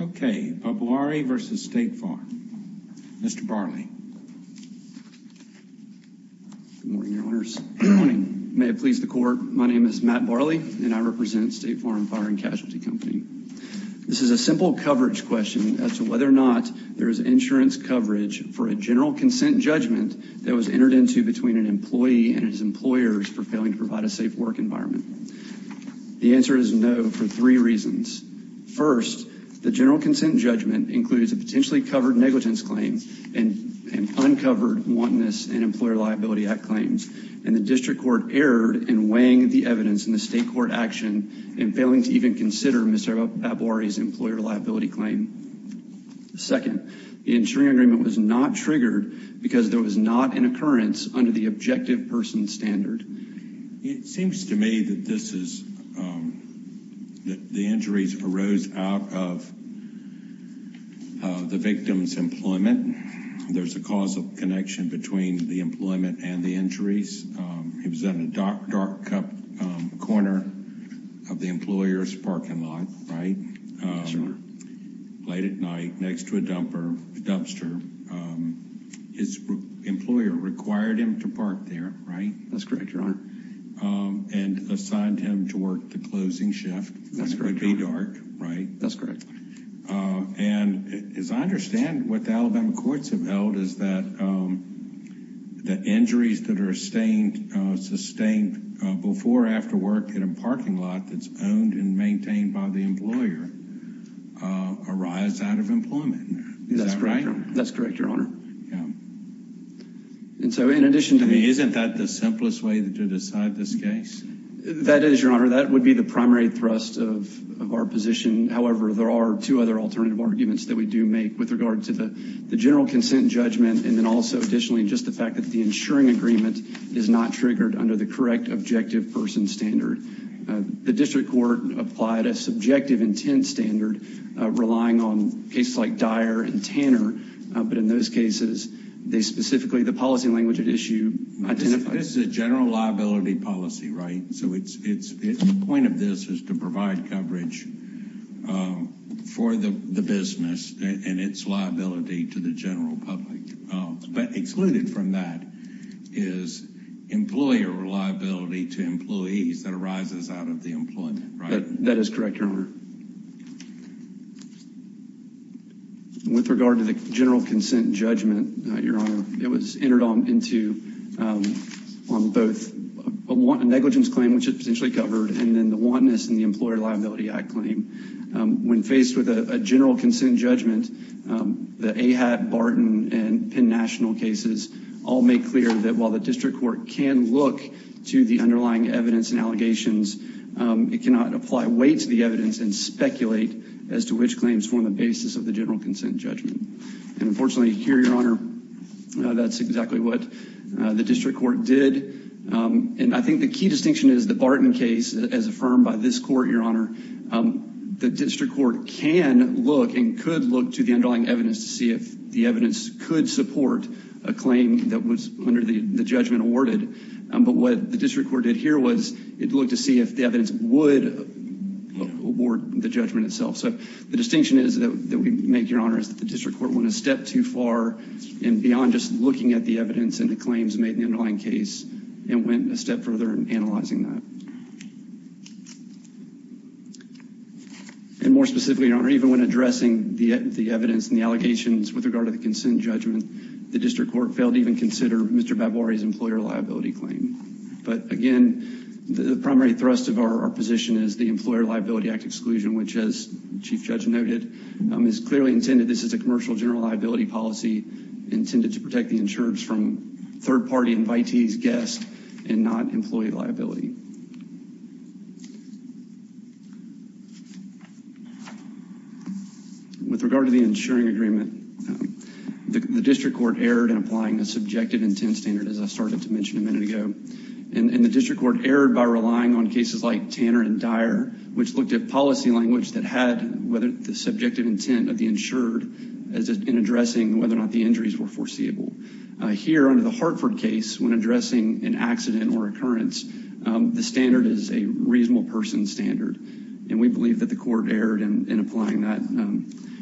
Okay, Babwari v. State Farm. Mr. Barley. Good morning, Your Honors. Good morning. May it please the Court, my name is Matt Barley and I represent State Farm Fire and Casualty Company. This is a simple coverage question as to whether or not there is insurance coverage for a general consent judgment that was entered into between an employee and his employers for failing to provide a safe work environment. The answer is no for three reasons. First, the general consent judgment includes a potentially covered negligence claim and uncovered wantonness and Employer Liability Act claims and the district court erred in weighing the evidence in the state court action and failing to even consider Mr. Babwari's employer liability claim. Second, the insuring agreement was not triggered because there was not an objective person standard. It seems to me that this is, that the injuries arose out of the victim's employment. There's a causal connection between the employment and the injuries. He was in a dark, dark corner of the employer's parking lot, right? Yes, sir. Late at night, next to a dumpster, his employer required him to park there, right? That's correct, your honor. And assigned him to work the closing shift when it would be dark, right? That's correct. And as I understand, what the Alabama courts have held is that the injuries that are sustained before or after work in a parking lot that's owned and maintained by the employer arise out of employment. Is that right? That's correct, your honor. And so in addition to the... Isn't that the simplest way to decide this case? That is, your honor. That would be the primary thrust of our position. However, there are two other alternative arguments that we do make with regard to the general consent judgment and then also additionally just the fact that the insuring agreement is not triggered under the correct objective person standard. The district court applied a subjective intent standard relying on cases like Dyer and Tanner, but in those cases, they specifically, the policy language at issue identifies... This is a general liability policy, right? So the point of this is to provide coverage for the business and its liability to the general public. But excluded from that is employer liability to employees that arises out of the employment, right? That is correct, your honor. With regard to the general consent judgment, your honor, it was entered on into on both a negligence claim, which is potentially covered, and then the wantonness in the Employer Liability Act claim. When faced with a general consent judgment, the AHAT, Barton, and Penn National cases all make clear that while the district court can look to the underlying evidence and allegations, it cannot apply weight to the evidence and speculate as to which claims form the basis of the general consent judgment. And unfortunately, here, your honor, that's exactly what the district court did. And I think the key distinction is the Barton case as affirmed by this court, your honor, the district court can look and could look to the underlying evidence to see if the evidence could support a claim that was under the judgment awarded. But what the district court did here was it looked to see if the evidence would award the judgment itself. So the distinction is that we make, your honor, is that the district court went a step too far and beyond just looking at the evidence and the claims made in the underlying case and went a step further in analyzing that. And more specifically, your honor, even when addressing the evidence and the allegations with regard to the consent judgment, the district court failed to even consider Mr. Babwari's employer liability claim. But again, the primary thrust of our position is the Employer Liability Act exclusion, which as Chief Judge noted, is clearly intended, this is a commercial general liability policy intended to protect the insurers from third-party invitees, guests, and not employee liability. With regard to the insuring agreement, the district court erred in applying a subjective intent standard, as I started to mention a minute ago. And the district court erred by relying on cases like Tanner and Dyer, which looked at policy language that had whether the subjective intent of as in addressing whether or not the injuries were foreseeable. Here under the Hartford case, when addressing an accident or occurrence, the standard is a reasonable person standard, and we believe that the court erred in applying that.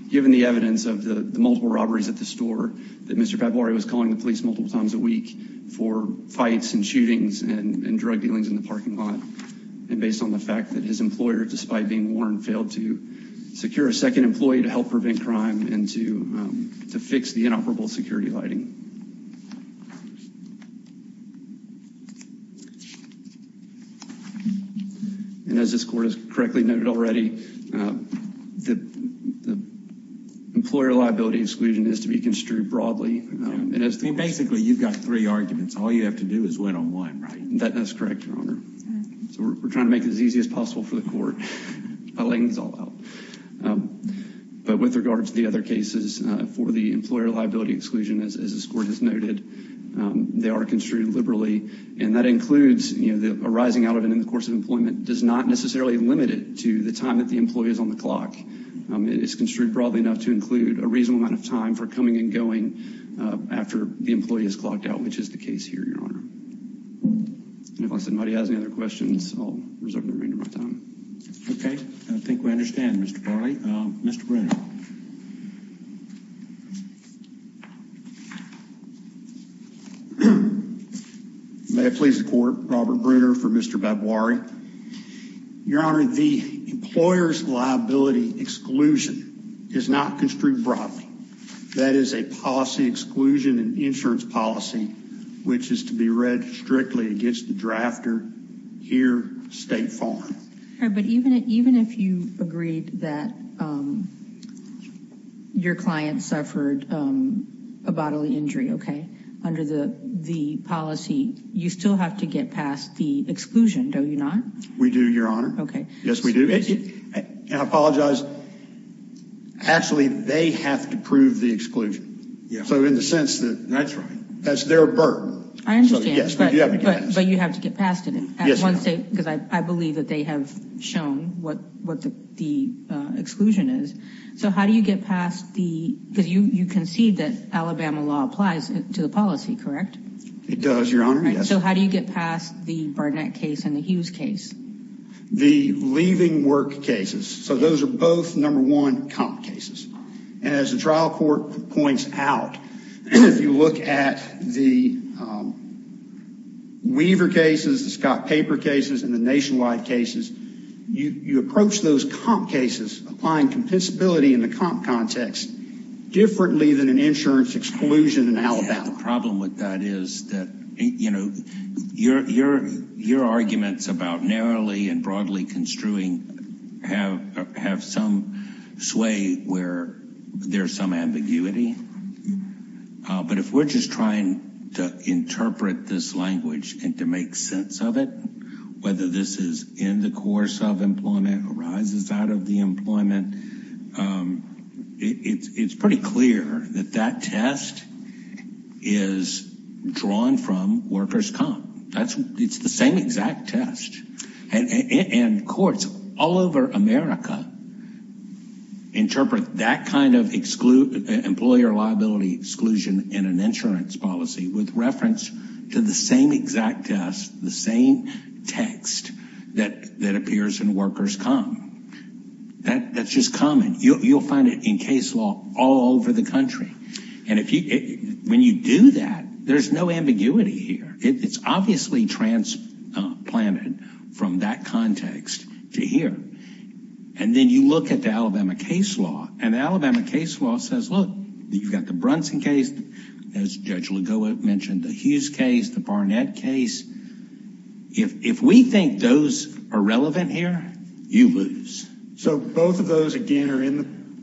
Given the evidence of the multiple robberies at the store that Mr. Babwari was calling the police multiple times a week for fights and shootings and drug dealings in the parking lot, and based on the fact that his employer, despite being warned, failed to secure a second employee to help prevent crime and to fix the inoperable security lighting. And as this court has correctly noted already, the employer liability exclusion is to be construed broadly. Basically, you've got three arguments. All you have to do is win on one, right? That is correct, Your Honor. So we're trying to make it as easy as possible for the court by letting this all out. But with regards to the other cases for the employer liability exclusion, as this court has noted, they are construed liberally, and that includes, you know, the arising out of it in the course of employment does not necessarily limit it to the time that the employee is on the clock. It is construed broadly enough to include a reasonable amount of time for coming and going after the employee is clocked out, which is the case here, Your Honor. And if somebody has any other questions, I'll reserve the remainder of my time. Okay, I think we understand, Mr. Barley. Mr. Brunner. May it please the court, Robert Brunner for Mr. Babwari. Your Honor, the employer's liability exclusion is not construed broadly. That is a policy exclusion and insurance policy which is to be read strictly against the drafter here, state farm. But even if you agreed that your client suffered a bodily injury, okay, under the policy, you still have to get past the exclusion, don't you not? We do, Your Honor. Okay. Yes, we do. And I apologize. Actually, they have to prove the exclusion. Yeah. So in the sense that that's right, that's their burden. I understand. But you have to get past it. Yes. Because I believe that they have shown what the exclusion is. So how do you get past the, because you concede that Alabama law applies to the policy, correct? It does, Your Honor. So how do you get past the Barnett case and the Hughes case? The leaving work cases. So those are both, number one, comp cases. And as the trial court points out, if you look at the Weaver cases, the Scott Paper cases and the nationwide cases, you approach those comp cases, applying compensability in the comp context differently than an insurance exclusion in Alabama. The problem with that is that, you know, your arguments about narrowly and broadly construing have some sway where there's some ambiguity. But if we're just trying to interpret this language and to make sense of it, whether this is in the course of employment, arises out of the employment, it's pretty clear that that test is drawn from workers' comp. It's the same exact test. And courts all over America interpret that kind of employer liability exclusion in an insurance policy with reference to the same exact test, the same text that appears in workers' comp. That's just common. You'll find it in case law all over the country. And when you do that, there's no ambiguity here. It's obviously transplanted from that context to here. And then you look at the Alabama case law, and the Alabama case law says, look, you've got the Brunson case, as Judge Lugo mentioned, the Hughes case, the Barnett case. If we think those are relevant here, you lose. So both of those, again, are in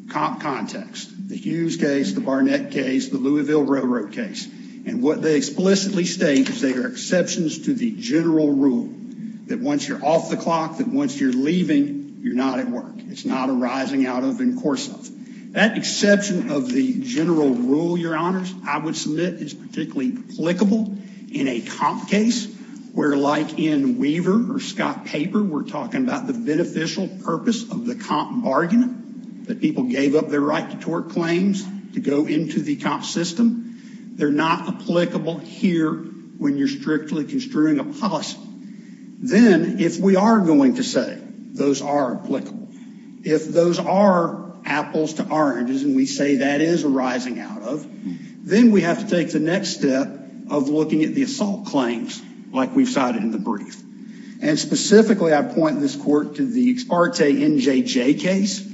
the comp context. The Hughes case, the Barnett case, the Louisville Railroad case. And what they explicitly state is they are exceptions to the general rule that once you're off the clock, that once you're leaving, you're not at work. It's not arising out of and course of. That exception of the general rule, Your Honors, I would submit is particularly applicable in a comp case, where like in Weaver or Scott Paper, we're talking about the beneficial purpose of the comp bargain, that people gave up their right to tort claims to go into the comp system. They're not applicable here when you're strictly construing a policy. Then if we are going to say those are applicable, if those are apples to oranges, and we say that is arising out of, then we have to take the next step of looking at the assault claims, like we've cited in the brief. And specifically, I point this court to the Ex parte NJJ case,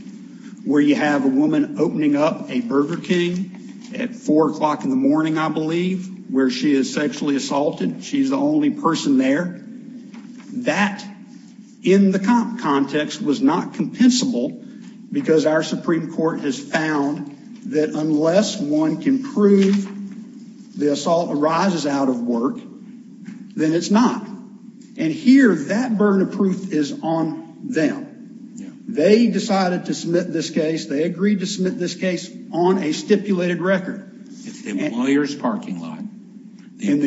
where you have a woman opening up a Burger King at four o'clock in the morning, I believe, where she is sexually assaulted. She's the only person there. That in the comp context was not compensable, because our Supreme Court has found that unless one can prove the assault arises out of work, then it's not. And here, that burden of proof is on them. They decided to submit this case. They agreed to submit this case on a stipulated record. It's the employer's parking lot. The it's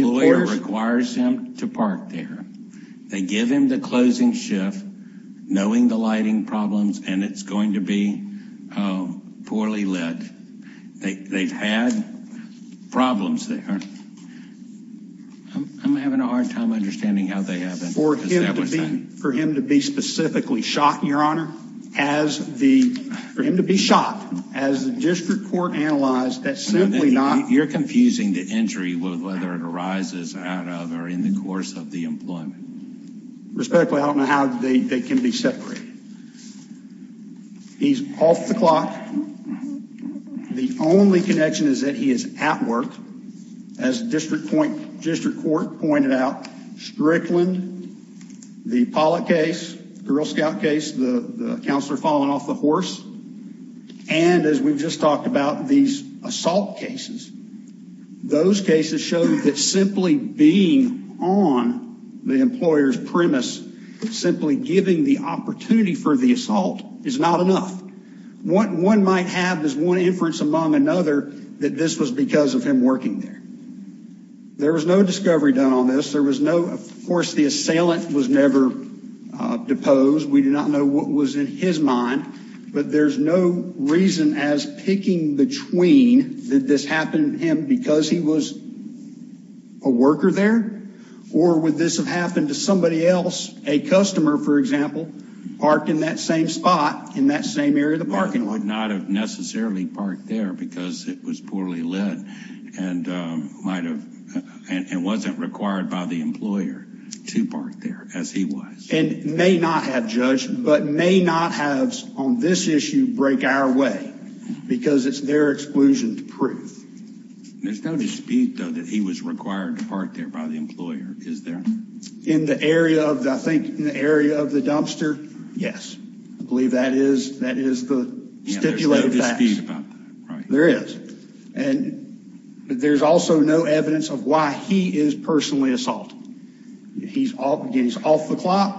going to be poorly lit. They've had problems there. I'm having a hard time understanding how they haven't. For him to be specifically shot, your honor, for him to be shot, as the district court analyzed, that's simply not... You're confusing the injury with whether it arises out of or in the course of the employment. Respectfully, I don't know how they can be separated. He's off the clock. The only connection is that he is at work. As district court pointed out, Strickland, the Pollack case, the Girl Scout case, the counselor falling off the horse, and as we've just talked about, these assault cases. Those cases show that simply being on the employer's premise, simply giving the opportunity for the assault is not enough. What one might have is one inference among another that this was because of him working there. There was no discovery done on this. There was no... Of course, the assailant was never deposed. We do not know what was in his mind, but there's no reason as picking between that this happened to him because he was a worker there, or would this have happened to somebody else, a customer, for example, parked in that same spot in that same area of the parking lot. Not have necessarily parked there because it was poorly lit and wasn't required by the employer to park there as he was. And may not have, Judge, but may not have on this issue break our way because it's their exclusion to prove. There's no dispute, though, that he was required to park there by the employer, is there? In the area of, I think, in the area of the dumpster, yes. I believe that is the stipulated facts. There is no dispute about that. There is. And there's also no evidence of why he is personally assaulted. He's off the clock.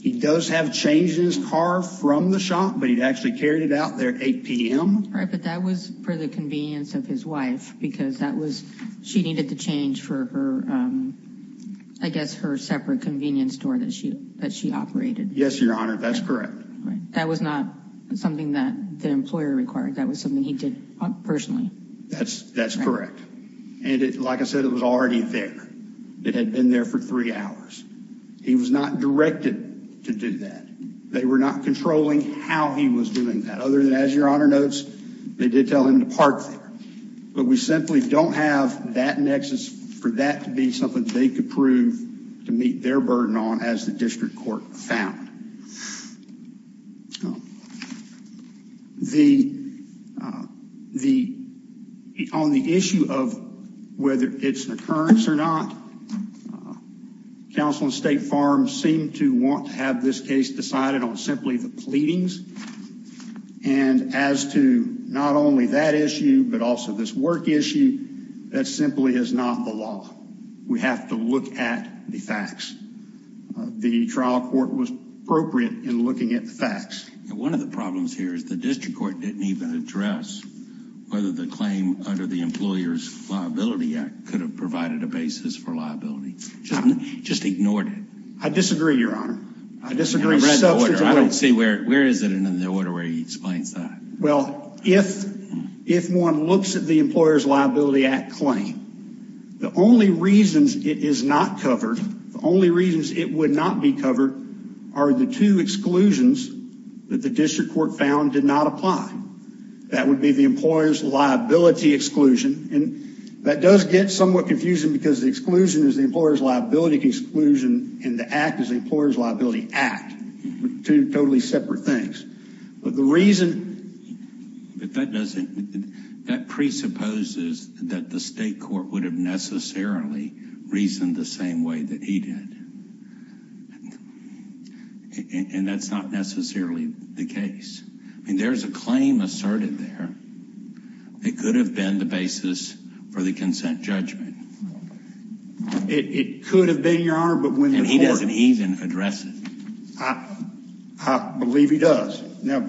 He does have changes in his car from the but he'd actually carried it out there at 8 p.m. Right, but that was for the convenience of his wife because that was, she needed to change for her, I guess, her separate convenience store that she that she operated. Yes, Your Honor, that's correct. That was not something that the employer required. That was something he did personally. That's correct. And it, like I said, it was already there. It had been there for three hours. He was not directed to do that. They were not controlling how he was doing that other than, as Your Honor notes, they did tell him to park there. But we simply don't have that nexus for that to be something they could prove to meet their burden on as the district court found. The, the, on the issue of whether it's an occurrence or not, uh, counsel and state farms seem to want to have this case decided on simply the pleadings. And as to not only that issue, but also this work issue, that simply is not the law. We have to look at the facts. The trial court was appropriate in looking at the facts. And one of the problems here is the district court didn't even address whether the claim under the Employer's Liability Act could have provided a basis for liability. Just ignored it. I disagree, Your Honor. I disagree. I don't see where, where is it in the order where he explains that? Well, if, if one looks at the Employer's Liability Act claim, the only reasons it is not covered, the only reasons it would not be covered are the two exclusions that the district court found did not apply. That would be the employer's liability exclusion. And that does get somewhat confusing because the exclusion is the employer's liability exclusion and the act is the Employer's Liability Act. Two totally separate things. But the reason, but that doesn't, that presupposes that the state court would have necessarily reasoned the same way that he did. And that's not necessarily the case. I mean, there's a claim asserted there. It could have been the basis for the consent judgment. It could have been, Your Honor, but when he doesn't even address it. I believe he does. You're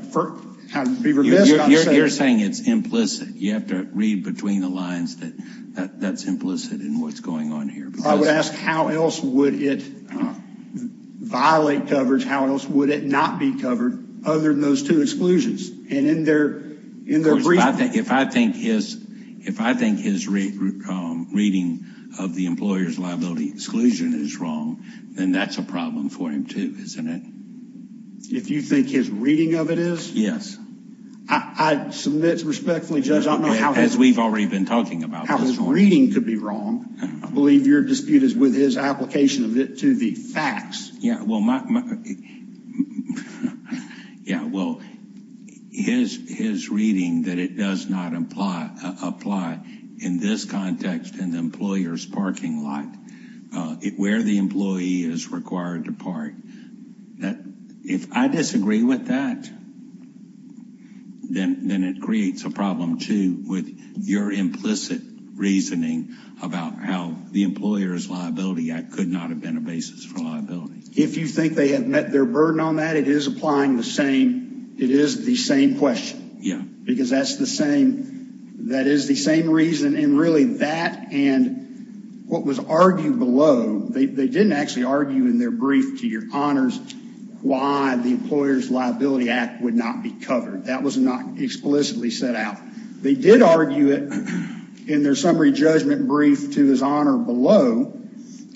saying it's implicit. You have to read between the lines that that that's implicit in what's going on here. I would ask how else would it violate coverage? How else would it not be covered other than those two exclusions? And in their, in their brief, if I think his, if I think his reading of the employer's liability exclusion is wrong, then that's a problem for him too, isn't it? If you think his reading of it is? Yes. I submit respectfully, Judge, as we've already been talking about, how his reading could be wrong. I believe your dispute is with his application of it to the facts. Yeah, well, my, yeah, well, his, his reading that it does not apply, apply in this context, in the employer's parking lot, where the employee is required to park. That, if I disagree with that, then, then it creates a problem too with your implicit reasoning about how the employer's liability act could not have been a basis for liability. If you think they have met their burden on that, it is applying the same, it is the same question. Yeah. Because that's the same, that is the same reason, and really that and what was argued below, they didn't actually argue in their brief to your honors, why the employer's liability act would not be covered. That was not explicitly set out. They did argue it in their summary judgment brief to his honor below,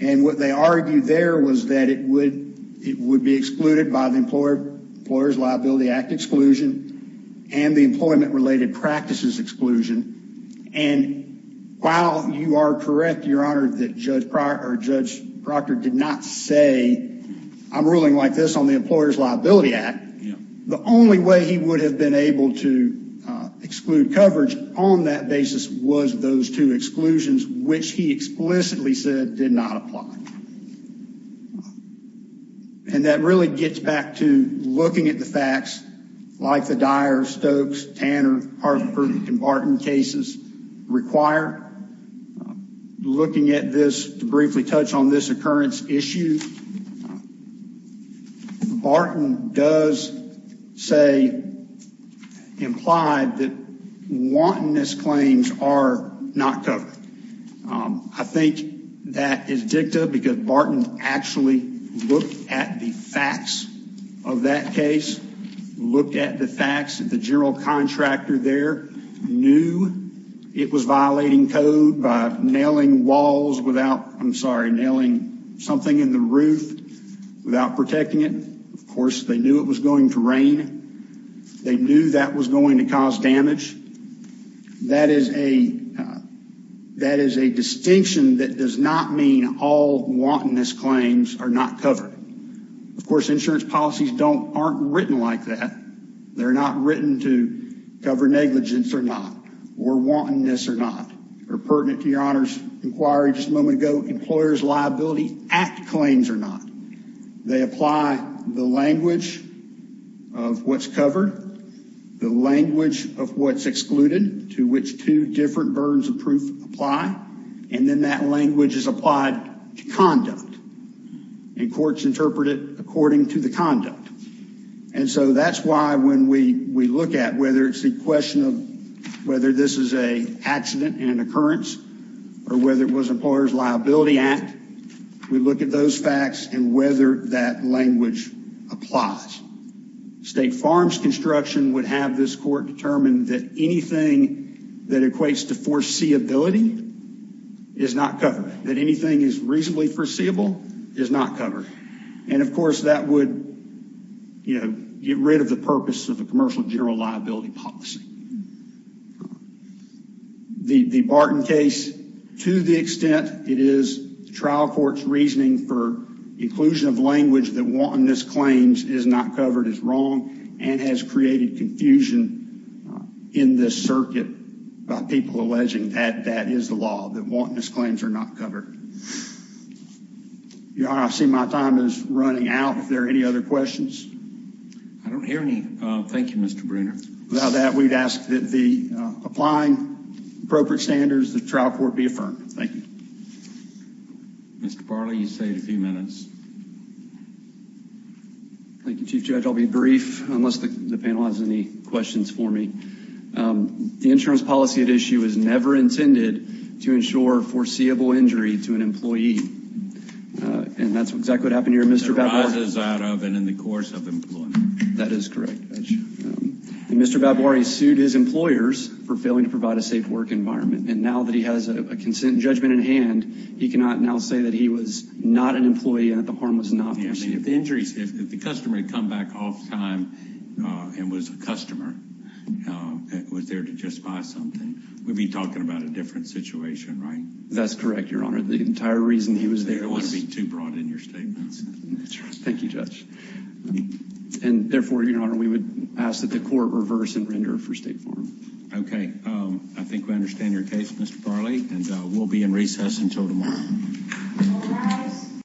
and what they argued there was that it would, it would be excluded by the employer, employer's liability act exclusion and the employment related practices exclusion. And while you are correct, your honor, that Judge Pryor or Judge Proctor did not say, I'm ruling like this on the employer's liability act, the only way he would have been able to exclude coverage on that basis was those two exclusions, which he explicitly said did not apply. And that really gets back to looking at the facts like the Dyer, Stokes, Tanner, Hartford and Barton cases required, looking at this to briefly touch on this occurrence issue. Barton does say, implied that wantonness claims are not covered. I think that is dicta because Barton actually looked at the facts of that case, looked at the facts that the general contractor there knew it was violating code by nailing walls without, I'm sorry, nailing something in the roof without protecting it. Of course, they knew it was going to rain. They knew that was going to cause claims are not covered. Of course, insurance policies don't, aren't written like that. They're not written to cover negligence or not, or wantonness or not, or pertinent to your honor's inquiry just a moment ago, employer's liability act claims or not. They apply the language of what's covered, the language of what's excluded to which two different burdens of proof apply. And then that language is applied to conduct and courts interpret it according to the conduct. And so that's why when we look at whether it's a question of whether this is a accident and occurrence or whether it was employer's liability act, we look at those facts and whether that language applies. State farms construction would have this court determine that anything that equates to foreseeability is not covered, that anything is reasonably foreseeable is not covered. And of course that would, you know, get rid of the purpose of a commercial general liability policy. The Barton case, to the extent it is, the trial court's reasoning for inclusion of language that wantonness claims is not covered is wrong and has created confusion in this circuit by people alleging that that is the law, that wantonness claims are not covered. Your honor, I see my time is running out. If there are any other questions. I don't hear any. Thank you, Mr. Bruner. Without that, we'd ask that the applying appropriate standards, the trial court be affirmed. Thank you. Mr. Barley, you saved a few minutes. Thank you, Chief Judge. I'll be brief unless the panel has any questions for me. The insurance policy at issue is never intended to ensure foreseeable injury to an employee. And that's exactly what happened here. Mr. Babwari... That arises out of and in the course of employment. That is correct. Mr. Babwari sued his employers for failing to provide a safe work environment. And now that he has a consent judgment in hand, he cannot now say that he was not an officer. If the customer had come back off time and was a customer and was there to just buy something, we'd be talking about a different situation, right? That's correct, your honor. The entire reason he was there was... I don't want to be too broad in your statements. That's right. Thank you, Judge. And therefore, your honor, we would ask that the court reverse and render for State Farm. Okay. I think we understand your case, Mr. Barley, and we'll be in recess until tomorrow.